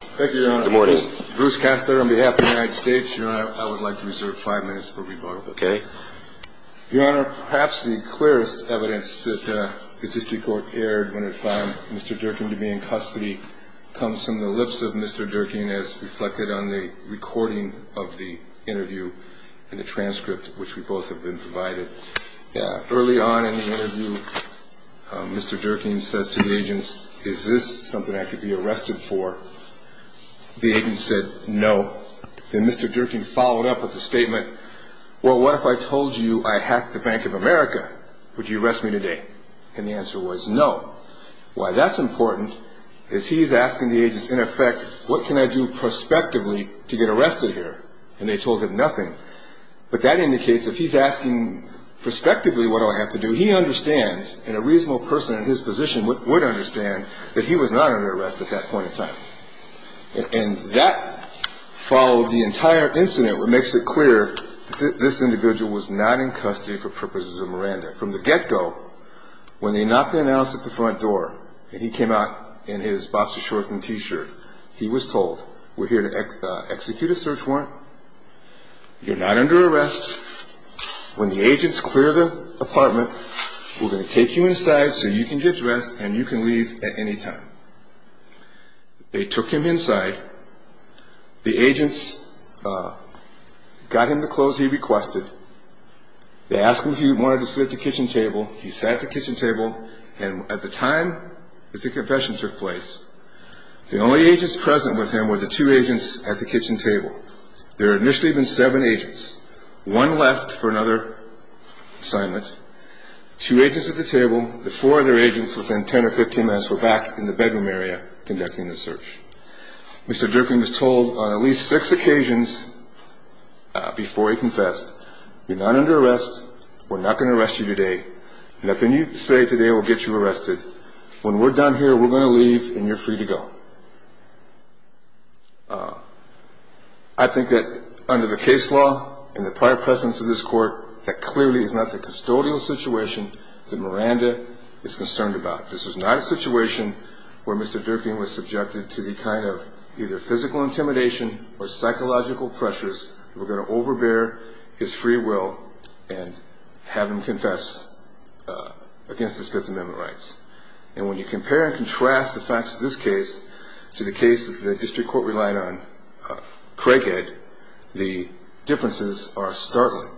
Thank you, Your Honor. Bruce Castor on behalf of the United States, Your Honor, I would like to reserve five minutes for rebuttal. Your Honor, perhaps the clearest evidence that the district court erred when it found Mr. Dierking to be in custody comes from the lips of Mr. Dierking as reflected on the recording of the interview and the transcript which we both have been provided. Early on in the interview, Mr. Dierking says to the agents, is this something I could be arrested for? The agents said no. Then Mr. Dierking followed up with the statement, well, what if I told you I hacked the Bank of America? Would you arrest me today? And the answer was no. Why that's important is he's asking the agents, in effect, what can I do prospectively to get arrested here? And they told him nothing. But that indicates if he's asking prospectively what do I have to do, he understands and a reasonable person in his position would understand that he was not under arrest at that point in time. And that followed the entire incident, which makes it clear that this individual was not in custody for purposes of Miranda. From the get-go, when they knocked the announce at the front door and he came out in his boxer-shortened T-shirt, he was told, we're here to execute a search warrant. You're not under arrest. When the agents clear the apartment, we're going to take you inside so you can get dressed and you can leave at any time. They took him inside. The agents got him the clothes he requested. They asked him if he wanted to sit at the kitchen table. He sat at the kitchen table. And at the time that the confession took place, the only agents present with him were the two agents at the kitchen table. There had initially been seven agents, one left for another assignment, two agents at the table, the four other agents within 10 or 15 minutes were back in the bedroom area conducting the search. Mr. Durkin was told on at least six occasions before he confessed, you're not under arrest, we're not going to arrest you today, and if you say today we'll get you arrested, when we're done here, we're going to leave and you're free to go. I think that under the case law and the prior presence of this court, that clearly is not the custodial situation that Miranda is concerned about. This is not a situation where Mr. Durkin was subjected to the kind of either physical intimidation or psychological pressures that were going to overbear his free will and have him confess against his Fifth Amendment rights. And when you compare and contrast the facts of this case to the case that the district court relied on Craighead, the differences are startling.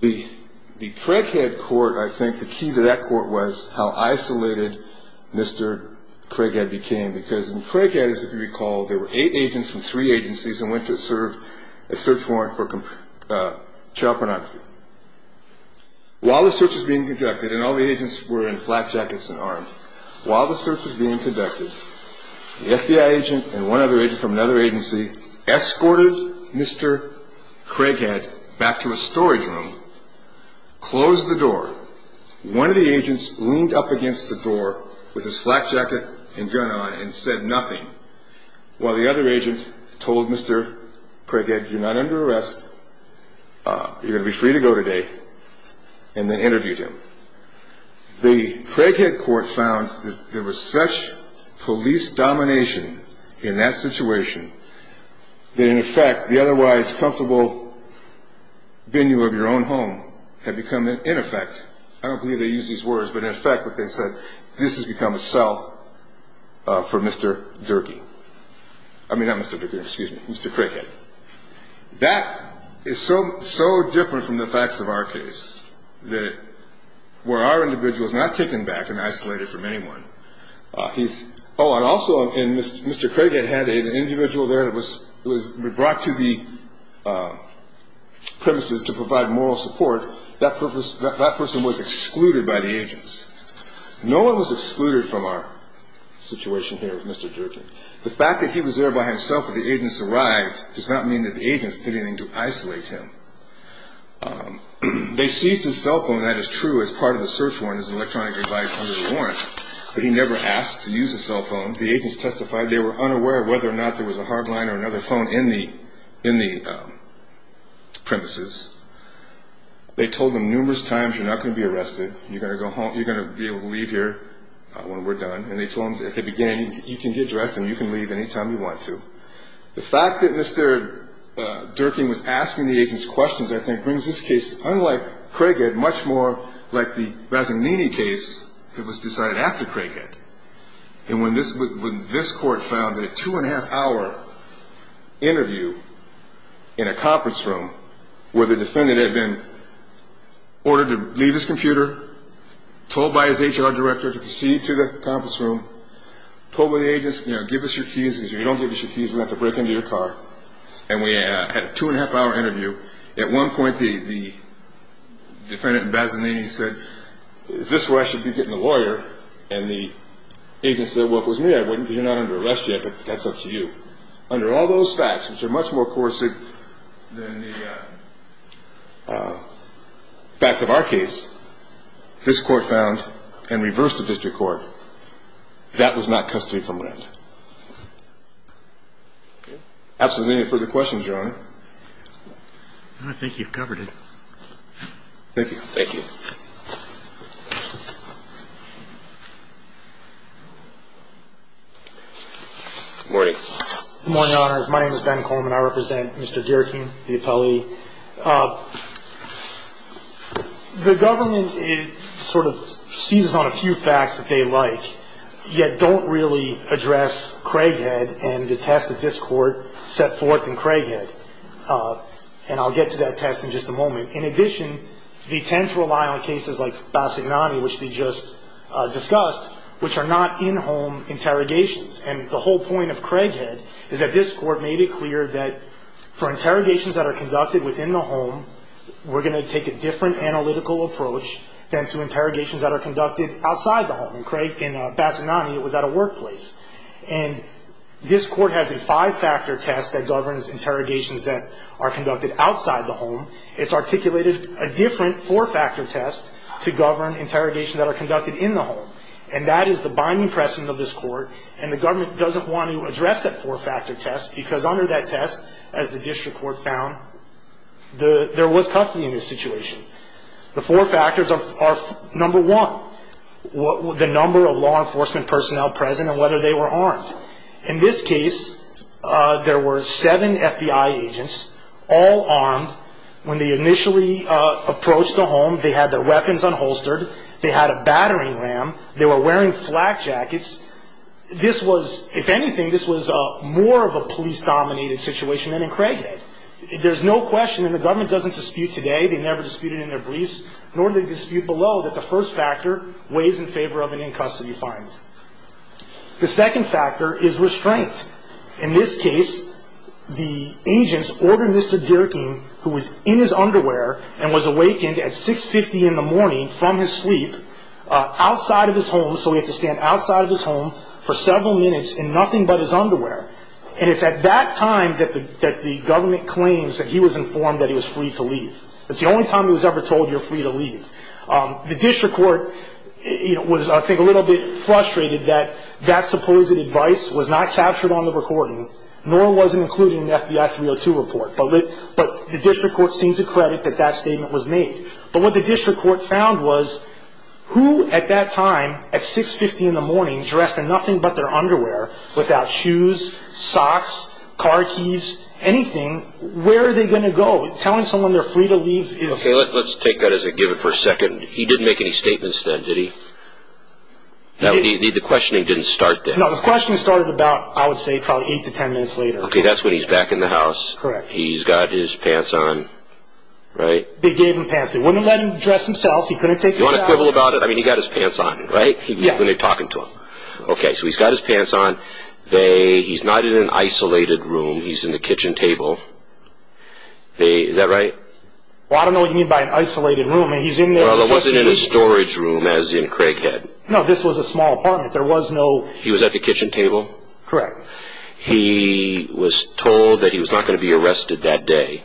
The Craighead court, I think the key to that court was how isolated Mr. Craighead became because in Craighead, as you recall, there were eight agents from three agencies and went to serve a search warrant for child pornography. While the search was being conducted, and all the agents were in flak jackets and armed, while the search was being conducted, the FBI agent and one other agent from another agency escorted Mr. Craighead back to a storage room, closed the door. One of the agents leaned up against the door with his flak jacket and gun on and said nothing, while the other agent told Mr. Craighead, you're not under arrest, you're going to be free to go today, and then interviewed him. The Craighead court found that there was such police domination in that situation that in effect, the otherwise comfortable venue of your own home had become, in effect, I don't believe they used these words, but in effect what they said, this has become a cell for Mr. Durkee. I mean not Mr. Durkee, excuse me, Mr. Craighead. That is so different from the facts of our case that where our individual is not taken back and isolated from anyone, he's, oh and also in Mr. Craighead had an individual there that was brought to the premises to provide moral support, that person was excluded by the agents. No one was excluded from our situation here with Mr. Durkee. The fact that he was there by himself when the agents arrived does not mean that the agents did anything to isolate him. They seized his cell phone, that is true as part of the search warrant, as electronic device under the warrant, but he never asked to use the cell phone. The agents testified they were unaware whether or not there was a hard line or another phone in the premises. They told him numerous times you're not going to be arrested, you're going to be able to leave here when we're done, and they told him at the beginning you can get dressed and you can leave any time you want to. The fact that Mr. Durkee was asking the agents questions I think brings this case, unlike Craighead, much more like the Razzagnini case that was decided after Craighead. And when this court found that a two and a half hour interview in a conference room where the defendant had been ordered to leave his computer, told by his HR director to proceed to the conference room, told the agents give us your keys because if you don't give us your keys we're going to have to break into your car, and we had a two and a half hour interview. At one point the defendant in Razzagnini said, is this where I should be getting a lawyer? And the agents said, well if it was me I wouldn't because you're not under arrest yet, but that's up to you. Under all those facts, which are much more coercive than the facts of our case, this court found and reversed the district court, that was not custody from rent. Absent any further questions, Your Honor. I think you've covered it. Thank you. Thank you. Good morning. Good morning, Your Honors. My name is Ben Coleman. I represent Mr. Dierking, the appellee. The government sort of seizes on a few facts that they like, yet don't really address Craighead and the test that this court set forth in Craighead. And I'll get to that test in just a moment. In addition, they tend to rely on cases like Bassignani, which we just discussed, which are not in-home interrogations. And the whole point of Craighead is that this court made it clear that for interrogations that are conducted within the home, we're going to take a different analytical approach than to interrogations that are conducted outside the home. In Bassignani it was at a workplace. And this court has a five-factor test that governs interrogations that are conducted outside the home. It's articulated a different four-factor test to govern interrogations that are conducted in the home. And that is the binding precedent of this court, and the government doesn't want to address that four-factor test because under that test, as the district court found, there was custody in this situation. The four factors are, number one, the number of law enforcement personnel present and whether they were armed. In this case, there were seven FBI agents, all armed. When they initially approached the home, they had their weapons unholstered. They had a battering ram. They were wearing flak jackets. This was, if anything, this was more of a police-dominated situation than in Craighead. There's no question, and the government doesn't dispute today, they never disputed in their briefs, nor do they dispute below that the first factor weighs in favor of an in-custody finding. The second factor is restraint. In this case, the agents ordered Mr. Dierking, who was in his underwear and was awakened at 6.50 in the morning from his sleep, outside of his home, so he had to stand outside of his home for several minutes in nothing but his underwear. And it's at that time that the government claims that he was informed that he was free to leave. It's the only time he was ever told you're free to leave. The district court was, I think, a little bit frustrated that that supposed advice was not captured on the recording, nor was it included in the FBI 302 report. But the district court seemed to credit that that statement was made. But what the district court found was who at that time, at 6.50 in the morning, dressed in nothing but their underwear, without shoes, socks, car keys, anything, where are they going to go? Telling someone they're free to leave is... Okay, let's take that as a given for a second. He didn't make any statements then, did he? The questioning didn't start then. No, the questioning started about, I would say, probably eight to ten minutes later. Okay, that's when he's back in the house. Correct. He's got his pants on. Right? They gave him pants. They wouldn't let him dress himself. He couldn't take them off. You want to quibble about it? I mean, he got his pants on, right? Yeah. When they're talking to him. Okay, so he's got his pants on. He's not in an isolated room. He's in the kitchen table. Is that right? Well, I don't know what you mean by an isolated room. He's in there. Well, it wasn't in a storage room as in Craighead. No, this was a small apartment. There was no... He was at the kitchen table? Correct. He was told that he was not going to be arrested that day.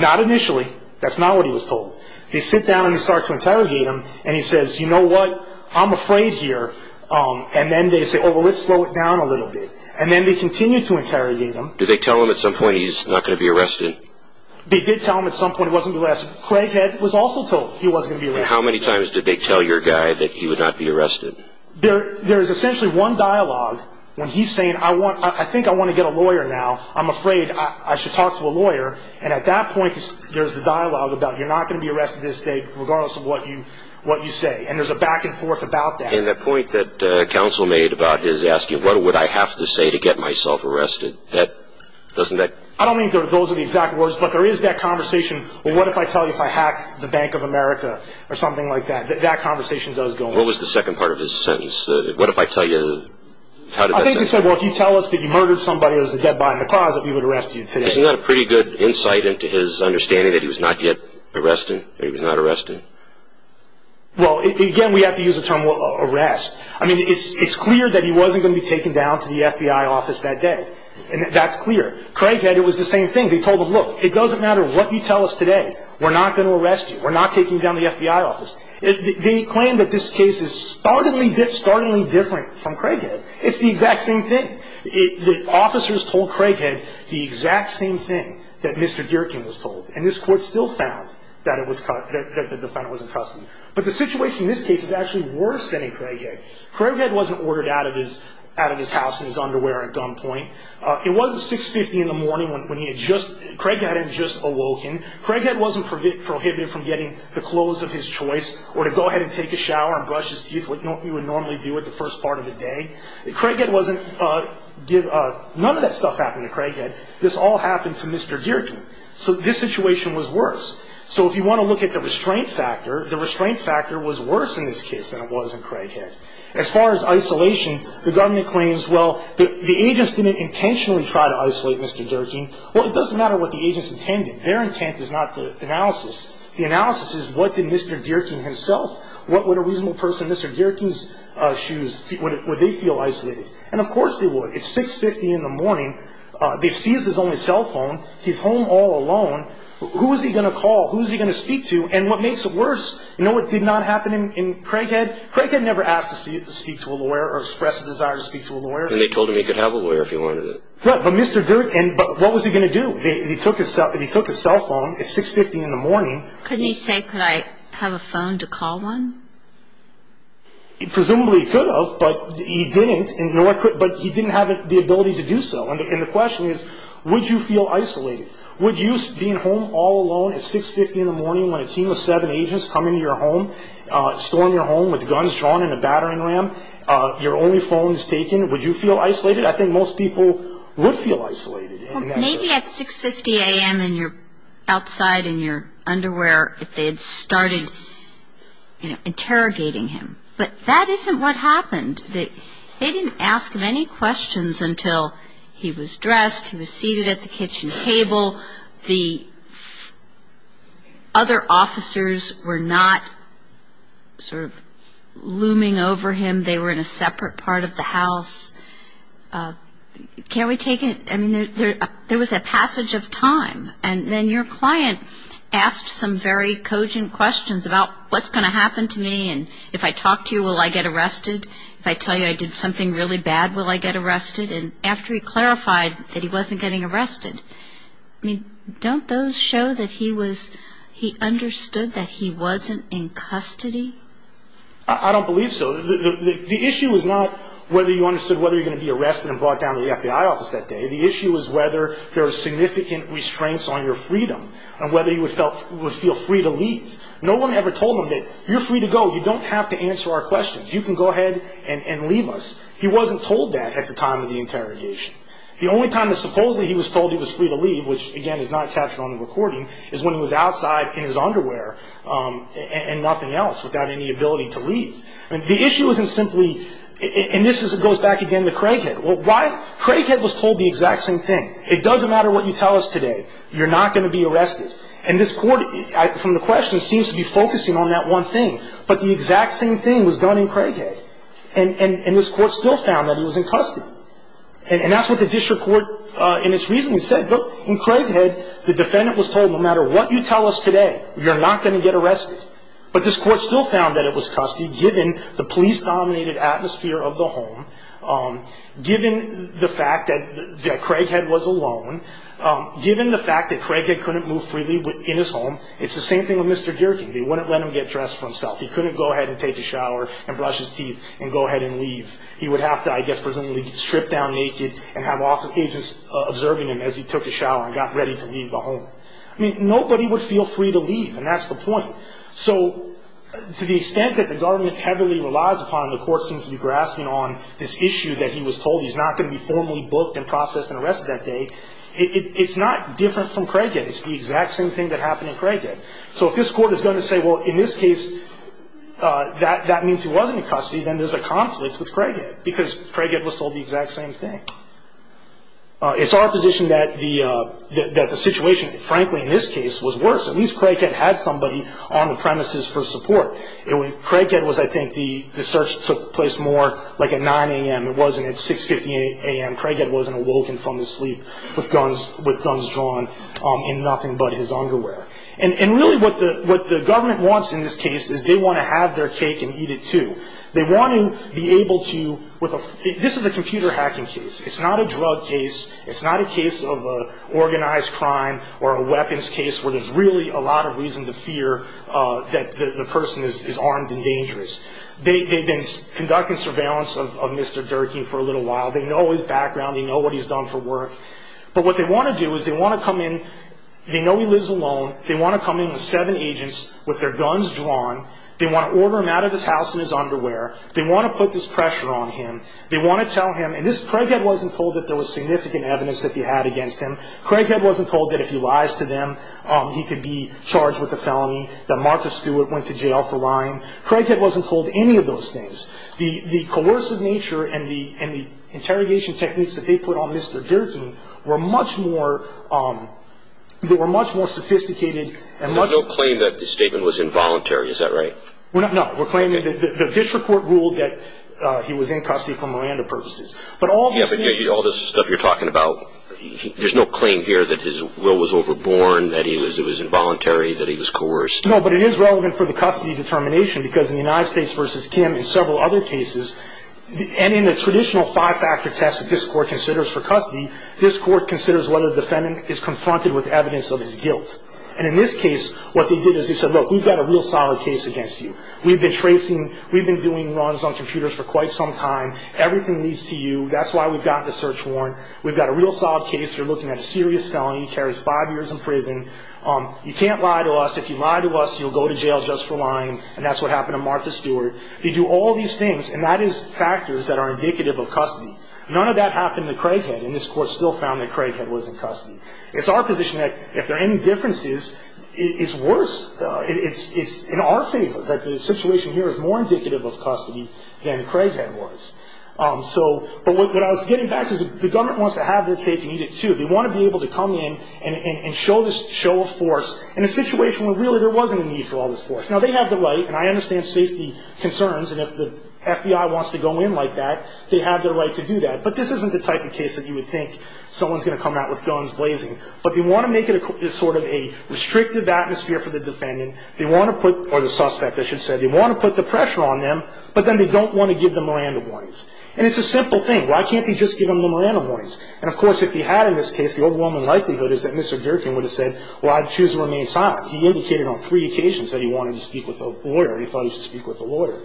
Not initially. That's not what he was told. They sit down and they start to interrogate him. And he says, you know what, I'm afraid here. And then they say, oh, well, let's slow it down a little bit. And then they continue to interrogate him. Did they tell him at some point he's not going to be arrested? They did tell him at some point he wasn't going to be arrested. Craighead was also told he wasn't going to be arrested. How many times did they tell your guy that he would not be arrested? There is essentially one dialogue when he's saying, I think I want to get a lawyer now. I'm afraid I should talk to a lawyer. And at that point, there's the dialogue about you're not going to be arrested this day regardless of what you say. And there's a back and forth about that. And the point that counsel made about his asking what would I have to say to get myself arrested, doesn't that? I don't mean those are the exact words, but there is that conversation, well, what if I tell you if I hacked the Bank of America or something like that? That conversation does go on. What was the second part of his sentence? What if I tell you how did that happen? I think he said, well, if you tell us that you murdered somebody who was a dead body in the closet, we would arrest you today. Isn't that a pretty good insight into his understanding that he was not yet arrested or he was not arrested? Well, again, we have to use the term arrest. I mean, it's clear that he wasn't going to be taken down to the FBI office that day. And that's clear. Craighead, it was the same thing. They told him, look, it doesn't matter what you tell us today, we're not going to arrest you. We're not taking you down to the FBI office. They claim that this case is startlingly different from Craighead. It's the exact same thing. The officers told Craighead the exact same thing that Mr. Dierkin was told. And this court still found that the defendant was in custody. But the situation in this case is actually worse than in Craighead. Craighead wasn't ordered out of his house in his underwear at gunpoint. It wasn't 6.50 in the morning when he had just – Craighead hadn't just awoken. Craighead wasn't prohibited from getting the clothes of his choice or to go ahead and take a shower and brush his teeth, what you would normally do at the first part of the day. Craighead wasn't – none of that stuff happened to Craighead. This all happened to Mr. Dierkin. So this situation was worse. So if you want to look at the restraint factor, the restraint factor was worse in this case than it was in Craighead. As far as isolation, the government claims, well, the agents didn't intentionally try to isolate Mr. Dierkin. Well, it doesn't matter what the agents intended. Their intent is not the analysis. The analysis is what did Mr. Dierkin himself – what would a reasonable person in Mr. Dierkin's shoes – would they feel isolated? And of course they would. It's 6.50 in the morning. They seized his only cell phone. He's home all alone. Who is he going to call? Who is he going to speak to? And what makes it worse, you know what did not happen in Craighead? Craighead never asked to speak to a lawyer or expressed a desire to speak to a lawyer. And they told him he could have a lawyer if he wanted it. But Mr. Dierkin – but what was he going to do? If he took his cell phone, it's 6.50 in the morning. Couldn't he say, could I have a phone to call one? Presumably he could have, but he didn't. But he didn't have the ability to do so. And the question is, would you feel isolated? Would you, being home all alone at 6.50 in the morning when a team of seven agents come into your home, storm your home with guns drawn and a battering ram, your only phone is taken, would you feel isolated? I think most people would feel isolated. Maybe at 6.50 a.m. and you're outside in your underwear if they had started interrogating him. But that isn't what happened. They didn't ask him any questions until he was dressed, he was seated at the kitchen table. The other officers were not sort of looming over him. They were in a separate part of the house. Can we take – I mean, there was a passage of time. And then your client asked some very cogent questions about what's going to happen to me and if I talk to you, will I get arrested? If I tell you I did something really bad, will I get arrested? And after he clarified that he wasn't getting arrested, I mean, don't those show that he was – he understood that he wasn't in custody? I don't believe so. The issue was not whether you understood whether you were going to be arrested and brought down to the FBI office that day. The issue was whether there were significant restraints on your freedom and whether you would feel free to leave. No one ever told him that you're free to go, you don't have to answer our questions. You can go ahead and leave us. He wasn't told that at the time of the interrogation. The only time that supposedly he was told he was free to leave, which again is not captured on the recording, is when he was outside in his underwear and nothing else without any ability to leave. The issue isn't simply – and this goes back again to Craighead. Craighead was told the exact same thing. It doesn't matter what you tell us today, you're not going to be arrested. And this court, from the question, seems to be focusing on that one thing. But the exact same thing was done in Craighead. And this court still found that he was in custody. And that's what the district court in its reasoning said. Look, in Craighead, the defendant was told no matter what you tell us today, you're not going to get arrested. But this court still found that it was custody, given the police-dominated atmosphere of the home, given the fact that Craighead was alone, given the fact that Craighead couldn't move freely in his home. It's the same thing with Mr. Gierke. They wouldn't let him get dressed for himself. He couldn't go ahead and take a shower and brush his teeth and go ahead and leave. He would have to, I guess, presumably strip down naked and have officers observing him as he took a shower and got ready to leave the home. I mean, nobody would feel free to leave, and that's the point. So to the extent that the government heavily relies upon, and the court seems to be grasping on this issue that he was told he's not going to be formally booked and processed and arrested that day, it's not different from Craighead. It's the exact same thing that happened in Craighead. So if this court is going to say, well, in this case, that means he wasn't in custody, then there's a conflict with Craighead, because Craighead was told the exact same thing. It's our position that the situation, frankly, in this case, was worse. At least Craighead had somebody on the premises for support. Craighead was, I think, the search took place more like at 9 a.m. It wasn't at 6.58 a.m. Craighead wasn't awoken from his sleep with guns drawn in nothing but his underwear. And really what the government wants in this case is they want to have their cake and eat it, too. They want to be able to, with a, this is a computer hacking case. It's not a drug case. It's not a case of organized crime or a weapons case where there's really a lot of reason to fear that the person is armed and dangerous. They've been conducting surveillance of Mr. Durkee for a little while. They know his background. They know what he's done for work. But what they want to do is they want to come in. They know he lives alone. They want to come in with seven agents with their guns drawn. They want to order him out of his house in his underwear. They want to put this pressure on him. They want to tell him, and Craighead wasn't told that there was significant evidence that he had against him. Craighead wasn't told that if he lies to them, he could be charged with a felony, that Martha Stewart went to jail for lying. Craighead wasn't told any of those things. The coercive nature and the interrogation techniques that they put on Mr. Durkee were much more, they were much more sophisticated and much more. There's no claim that the statement was involuntary, is that right? No. We're claiming that the district court ruled that he was in custody for Miranda purposes. But all this. Yeah, but all this stuff you're talking about, there's no claim here that his will was overborne, that it was involuntary, that he was coerced. No, but it is relevant for the custody determination because in the United States v. Kim and several other cases, and in the traditional five-factor test that this court considers for custody, this court considers whether the defendant is confronted with evidence of his guilt. And in this case, what they did is they said, look, we've got a real solid case against you. We've been tracing, we've been doing runs on computers for quite some time. Everything leads to you. That's why we've gotten a search warrant. We've got a real solid case. You're looking at a serious felony. He carries five years in prison. You can't lie to us. If you lie to us, you'll go to jail just for lying, and that's what happened to Martha Stewart. They do all these things, and that is factors that are indicative of custody. None of that happened to Craighead, and this court still found that Craighead was in custody. It's our position that if there are any differences, it's worse. It's in our favor that the situation here is more indicative of custody than Craighead was. So, but what I was getting back to is the government wants to have their tape and need it too. They want to be able to come in and show a force in a situation where really there wasn't a need for all this force. Now, they have the right, and I understand safety concerns, and if the FBI wants to go in like that, they have the right to do that. But this isn't the type of case that you would think someone's going to come out with guns blazing. But they want to make it sort of a restrictive atmosphere for the defendant. They want to put, or the suspect, I should say, they want to put the pressure on them, but then they don't want to give them a random warning. And it's a simple thing. Why can't they just give them the random warnings? And, of course, if he had in this case, the overwhelming likelihood is that Mr. Durkin would have said, well, I'd choose to remain silent. He indicated on three occasions that he wanted to speak with a lawyer. He thought he should speak with a lawyer.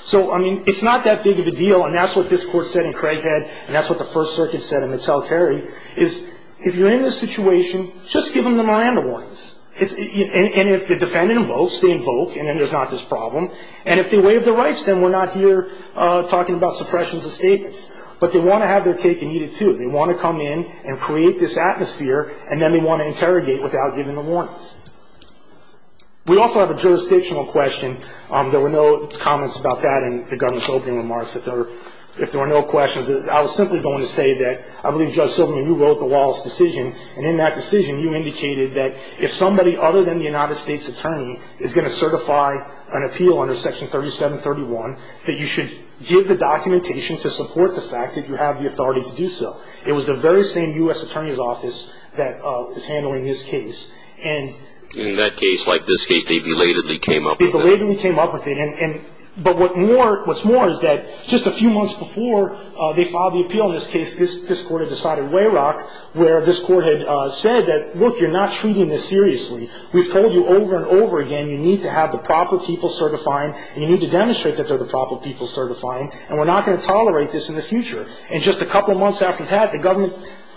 So, I mean, it's not that big of a deal, and that's what this court said in Craighead, and that's what the First Circuit said in Mattel-Carrie, is if you're in this situation, just give them the random warnings. And if the defendant invokes, they invoke, and then there's not this problem. And if they waive their rights, then we're not here talking about suppressions and statements. But they want to have their cake and eat it, too. They want to come in and create this atmosphere, and then they want to interrogate without giving the warnings. We also have a jurisdictional question. There were no comments about that in the Governor's opening remarks, if there were no questions. I was simply going to say that I believe, Judge Silverman, you wrote the Wallace decision, and in that decision you indicated that if somebody other than the United States Attorney is going to certify an appeal under Section 3731, that you should give the documentation to support the fact that you have the authority to do so. It was the very same U.S. Attorney's Office that is handling this case. In that case, like this case, they belatedly came up with it. They belatedly came up with it. But what's more is that just a few months before they filed the appeal in this case, this court had decided way rock, where this court had said that, look, you're not treating this seriously. We've told you over and over again you need to have the proper people certifying, and you need to demonstrate that they're the proper people certifying, and we're not going to tolerate this in the future. And just a couple months after that, the government,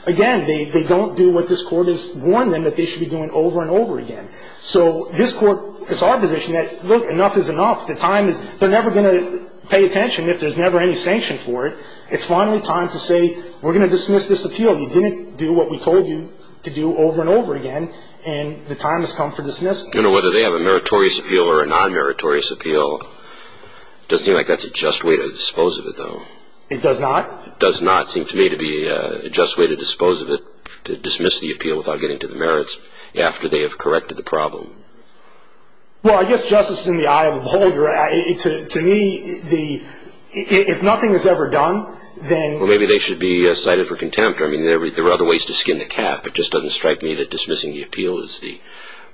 again, they don't do what this court has warned them that they should be doing over and over again. So this court, it's our position that, look, enough is enough. The time is they're never going to pay attention if there's never any sanction for it. It's finally time to say we're going to dismiss this appeal. You didn't do what we told you to do over and over again, and the time has come for dismissing. You know, whether they have a meritorious appeal or a non-meritorious appeal, it doesn't seem like that's a just way to dispose of it, though. It does not? It does not seem to me to be a just way to dispose of it, to dismiss the appeal without getting to the merits after they have corrected the problem. Well, I guess justice is in the eye of the beholder. To me, if nothing is ever done, then they should be cited for contempt. I mean, there are other ways to skin the cat, but it just doesn't strike me that dismissing the appeal is the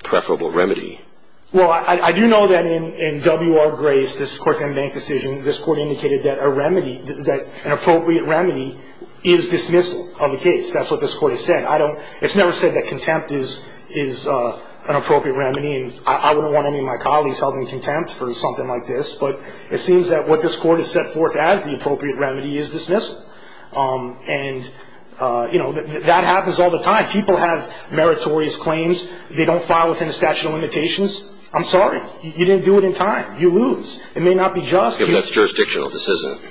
preferable remedy. Well, I do know that in W.R. Grace, this court's unbanked decision, this court indicated that an appropriate remedy is dismissal of the case. That's what this court has said. It's never said that contempt is an appropriate remedy, and I wouldn't want any of my colleagues held in contempt for something like this, but it seems that what this court has set forth as the appropriate remedy is dismissal. And, you know, that happens all the time. People have meritorious claims. They don't file within the statute of limitations. I'm sorry. You didn't do it in time. You lose. It may not be just. I mean, that's jurisdictional. This isn't.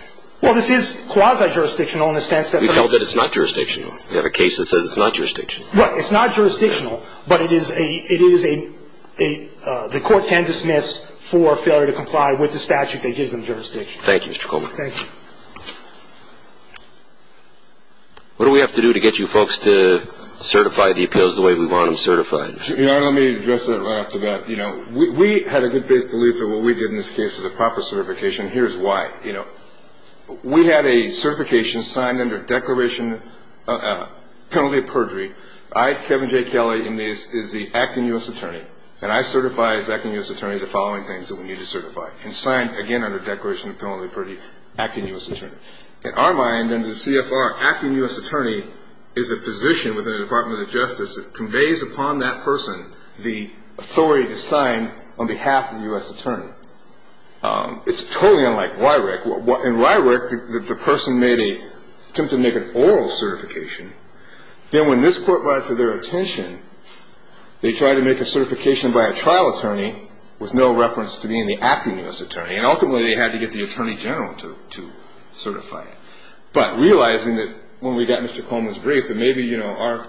Well, this is quasi-jurisdictional in the sense that it's not jurisdictional. We have a case that says it's not jurisdictional. Right. It's not jurisdictional, but it is a the court can dismiss for failure to comply with the statute that gives them jurisdiction. Thank you, Mr. Coleman. Thank you. What do we have to do to get you folks to certify the appeals the way we want them certified? Your Honor, let me address that right off the bat. You know, we had a good belief that what we did in this case was a proper certification. Here's why. You know, we had a certification signed under a declaration of penalty of perjury. I, Kevin J. Kelly, is the acting U.S. attorney, and I certify as acting U.S. attorney the following things that we need to certify, and sign, again, under declaration of penalty of perjury, acting U.S. attorney. In our mind, under the CFR, acting U.S. attorney is a position within the Department of Justice that conveys upon that person the authority to sign on behalf of the U.S. attorney. It's totally unlike RYREC. In RYREC, the person made an attempt to make an oral certification. Then when this court went for their attention, they tried to make a certification by a trial attorney with no reference to being the acting U.S. attorney, and ultimately they had to get the attorney general to certify it. But realizing that when we got Mr. Coleman's brief that maybe, you know,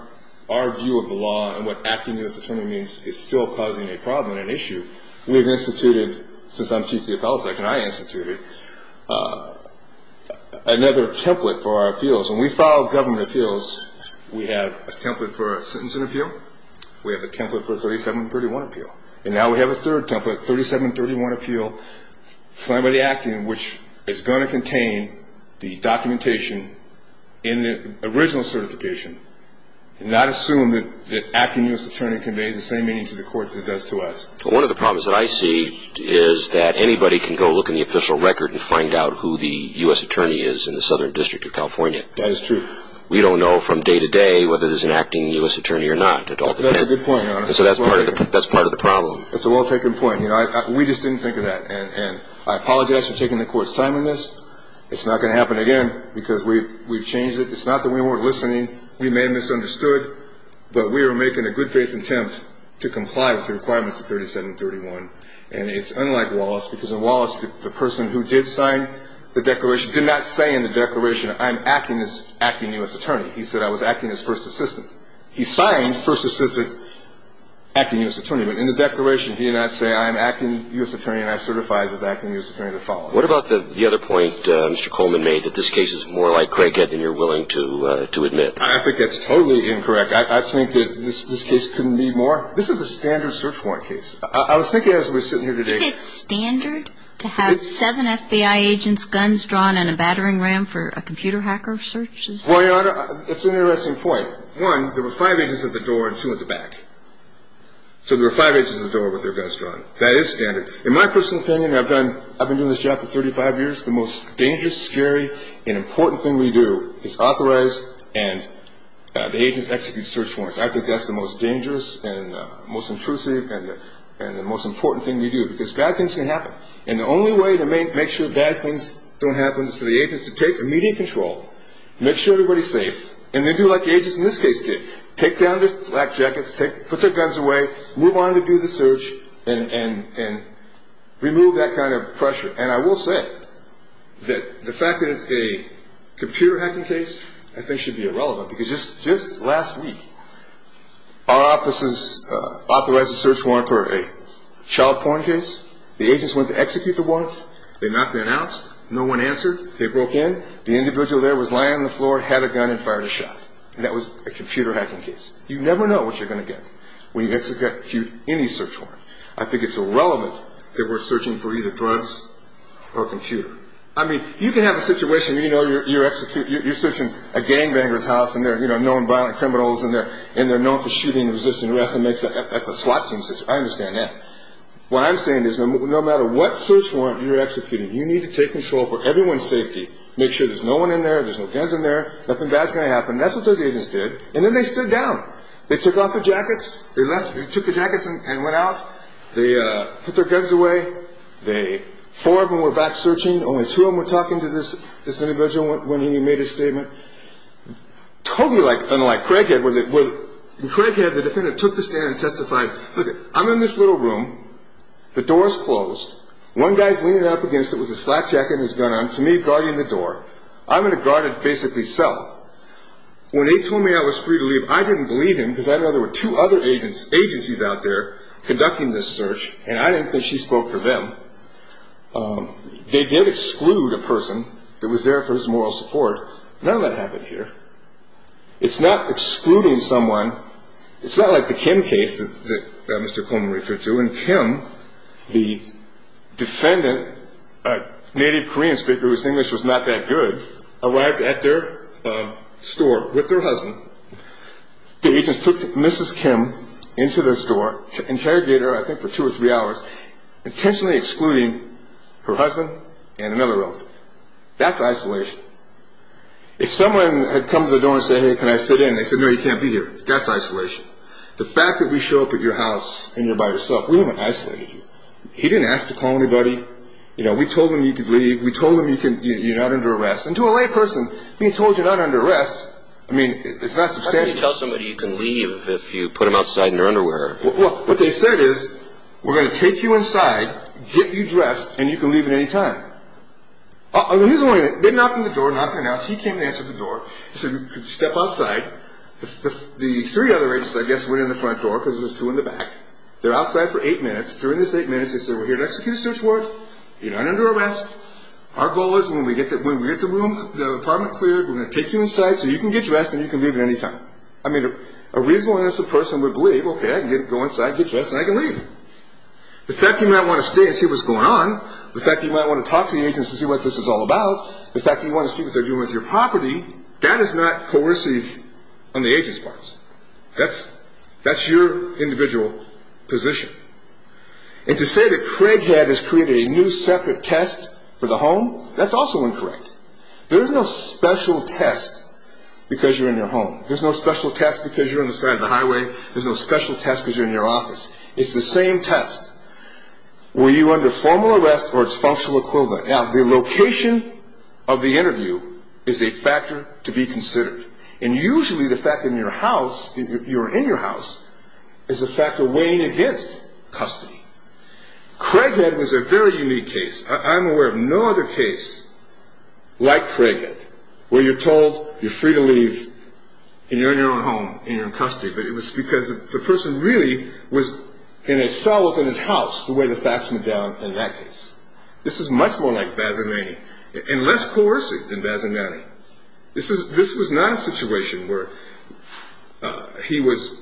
our view of the law and what acting U.S. attorney means is still causing a problem and an issue, we've instituted, since I'm chief of the appellate section, I instituted another template for our appeals. When we file government appeals, we have a template for a sentencing appeal. We have a template for a 3731 appeal. And now we have a third template, 3731 appeal, signed by the acting, which is going to contain the documentation in the original certification and not assume that acting U.S. attorney conveys the same meaning to the court that it does to us. One of the problems that I see is that anybody can go look in the official record and find out who the U.S. attorney is in the Southern District of California. That is true. We don't know from day to day whether there's an acting U.S. attorney or not. That's a good point, Your Honor. So that's part of the problem. That's a well-taken point. You know, we just didn't think of that. And I apologize for taking the court's time on this. It's not going to happen again because we've changed it. It's not that we weren't listening. We may have misunderstood, but we are making a good-faith attempt to comply with the requirements of 3731. And it's unlike Wallace because in Wallace, the person who did sign the declaration did not say in the declaration, I'm acting as acting U.S. attorney. He said I was acting as first assistant. He signed first assistant acting U.S. attorney. But in the declaration, he did not say I'm acting U.S. attorney and I certify as acting U.S. attorney to follow. What about the other point Mr. Coleman made, that this case is more like Craighead than you're willing to admit? I think that's totally incorrect. I think that this case couldn't be more. This is a standard search warrant case. I was thinking as we were sitting here today. Is it standard to have seven FBI agents, guns drawn, and a battering ram for a computer hacker search? Well, it's an interesting point. One, there were five agents at the door and two at the back. So there were five agents at the door with their guns drawn. That is standard. In my personal opinion, I've been doing this job for 35 years, the most dangerous, scary, and important thing we do is authorize and the agents execute search warrants. I think that's the most dangerous and most intrusive and the most important thing we do because bad things can happen. And the only way to make sure bad things don't happen is for the agents to take immediate control, make sure everybody's safe, and then do like the agents in this case did, take down their flak jackets, put their guns away, move on to do the search, and remove that kind of pressure. And I will say that the fact that it's a computer hacking case I think should be irrelevant because just last week our offices authorized a search warrant for a child porn case. The agents went to execute the warrant. They knocked and announced. No one answered. They broke in. The individual there was lying on the floor, had a gun, and fired a shot. That was a computer hacking case. You never know what you're going to get when you execute any search warrant. I think it's irrelevant that we're searching for either drugs or a computer. I mean, you can have a situation where you're searching a gangbanger's house and they're known violent criminals and they're known for shooting and resisting arrest. That's a SWAT team situation. I understand that. What I'm saying is no matter what search warrant you're executing, you need to take control for everyone's safety, make sure there's no one in there, there's no guns in there, nothing bad's going to happen. That's what those agents did. And then they stood down. They took off their jackets. They took their jackets and went out. They put their guns away. Four of them were back searching. Only two of them were talking to this individual when he made his statement. Totally unlike Craighead where Craighead, the defendant, took the stand and testified, look, I'm in this little room. The door is closed. One guy's leaning up against it with his flat jacket and his gun on to me guarding the door. I'm going to guard it basically cell. When they told me I was free to leave, I didn't believe him because I didn't know there were two other agencies out there conducting this search, and I didn't think she spoke for them. They did exclude a person that was there for his moral support. None of that happened here. It's not excluding someone. It's not like the Kim case that Mr. Coleman referred to. In Kim, the defendant, a native Korean speaker whose English was not that good, arrived at their store with their husband. The agents took Mrs. Kim into their store to interrogate her, I think, for two or three hours, intentionally excluding her husband and another relative. That's isolation. If someone had come to the door and said, hey, can I sit in? They said, no, you can't be here. That's isolation. The fact that we show up at your house and you're by yourself, we haven't isolated you. He didn't ask to call anybody. We told him you could leave. We told him you're not under arrest. And to a layperson, being told you're not under arrest, I mean, it's not substantial. How can you tell somebody you can leave if you put them outside in their underwear? What they said is, we're going to take you inside, get you dressed, and you can leave at any time. They knocked on the door, knocked on the door. He came and answered the door. He said, step outside. The three other agents said, yes, we're in the front door because there's two in the back. They're outside for eight minutes. During this eight minutes, they said, we're here to execute a search warrant. You're not under arrest. Our goal is when we get the room, the apartment cleared, we're going to take you inside so you can get dressed and you can leave at any time. I mean, a reasonable-minded person would believe, okay, I can go inside, get dressed, and I can leave. The fact that you might want to stay and see what's going on, the fact that you might want to talk to the agents to see what this is all about, the fact that you want to see what they're doing with your property, that is not coercive on the agents' part. That's your individual position. And to say that Craig had us create a new separate test for the home, that's also incorrect. There is no special test because you're in your home. There's no special test because you're on the side of the highway. There's no special test because you're in your office. It's the same test. Were you under formal arrest or its functional equivalent? Now, the location of the interview is a factor to be considered. And usually the fact that you're in your house is a factor weighing against custody. Craighead was a very unique case. I'm aware of no other case like Craighead where you're told you're free to leave and you're in your own home and you're in custody, but it was because the person really was in a cell within his house the way the facts went down in that case. This is much more like Bazzalany and less coercive than Bazzalany. This was not a situation where he was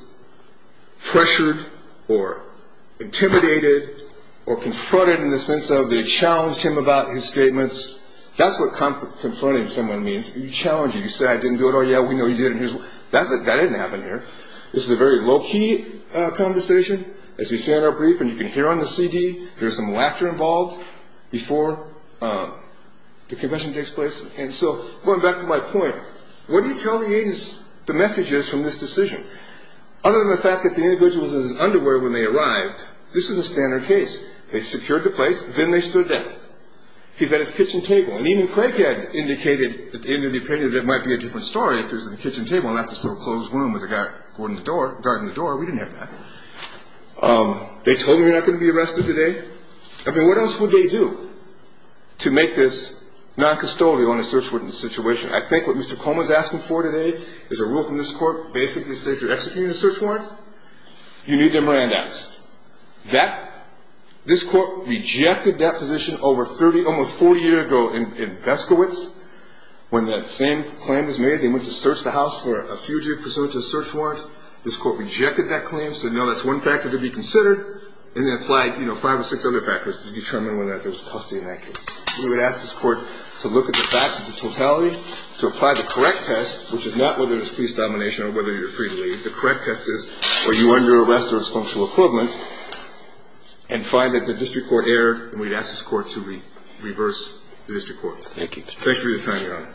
pressured or intimidated or confronted in the sense of they challenged him about his statements. That's what confronting someone means. You challenge him. You say, I didn't do it. Oh, yeah, we know you did it. That didn't happen here. This is a very low-key conversation, as we say in our brief, and you can hear on the CD there's some laughter involved before the confession takes place. And so going back to my point, what do you tell the agents the messages from this decision? Other than the fact that the individual was in his underwear when they arrived, this was a standard case. They secured the place, then they stood down. He's at his kitchen table, and even Craighead indicated at the end of the appearance that it might be a different story if he was at the kitchen table and not this little closed room with a guard guarding the door. We didn't have that. They told him you're not going to be arrested today. I mean, what else would they do to make this non-custodial in a search warrant situation? I think what Mr. Coleman is asking for today is a rule from this court basically saying if you're executing a search warrant, you need the Miranda's. This court rejected that position over 30, almost 40 years ago in Beskowitz. When that same claim was made, they went to search the house for a fugitive pursuant to a search warrant. This court rejected that claim, said no, that's one factor to be considered, and then applied, you know, five or six other factors to determine whether or not there was custody in that case. We would ask this court to look at the facts of the totality, to apply the correct test, which is not whether it's police domination or whether you're free to leave. The correct test is were you under arrest or its functional equivalent, and find that the district court erred, and we'd ask this court to reverse the district Thank you. Thank you for your time, Your Honor.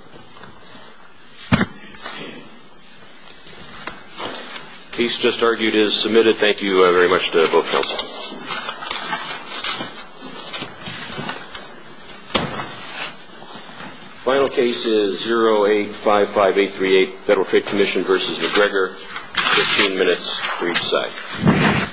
The case just argued is submitted. Thank you very much to both counsels. Final case is 0855838, Federal Trade Commission v. McGregor. Fifteen minutes for each side.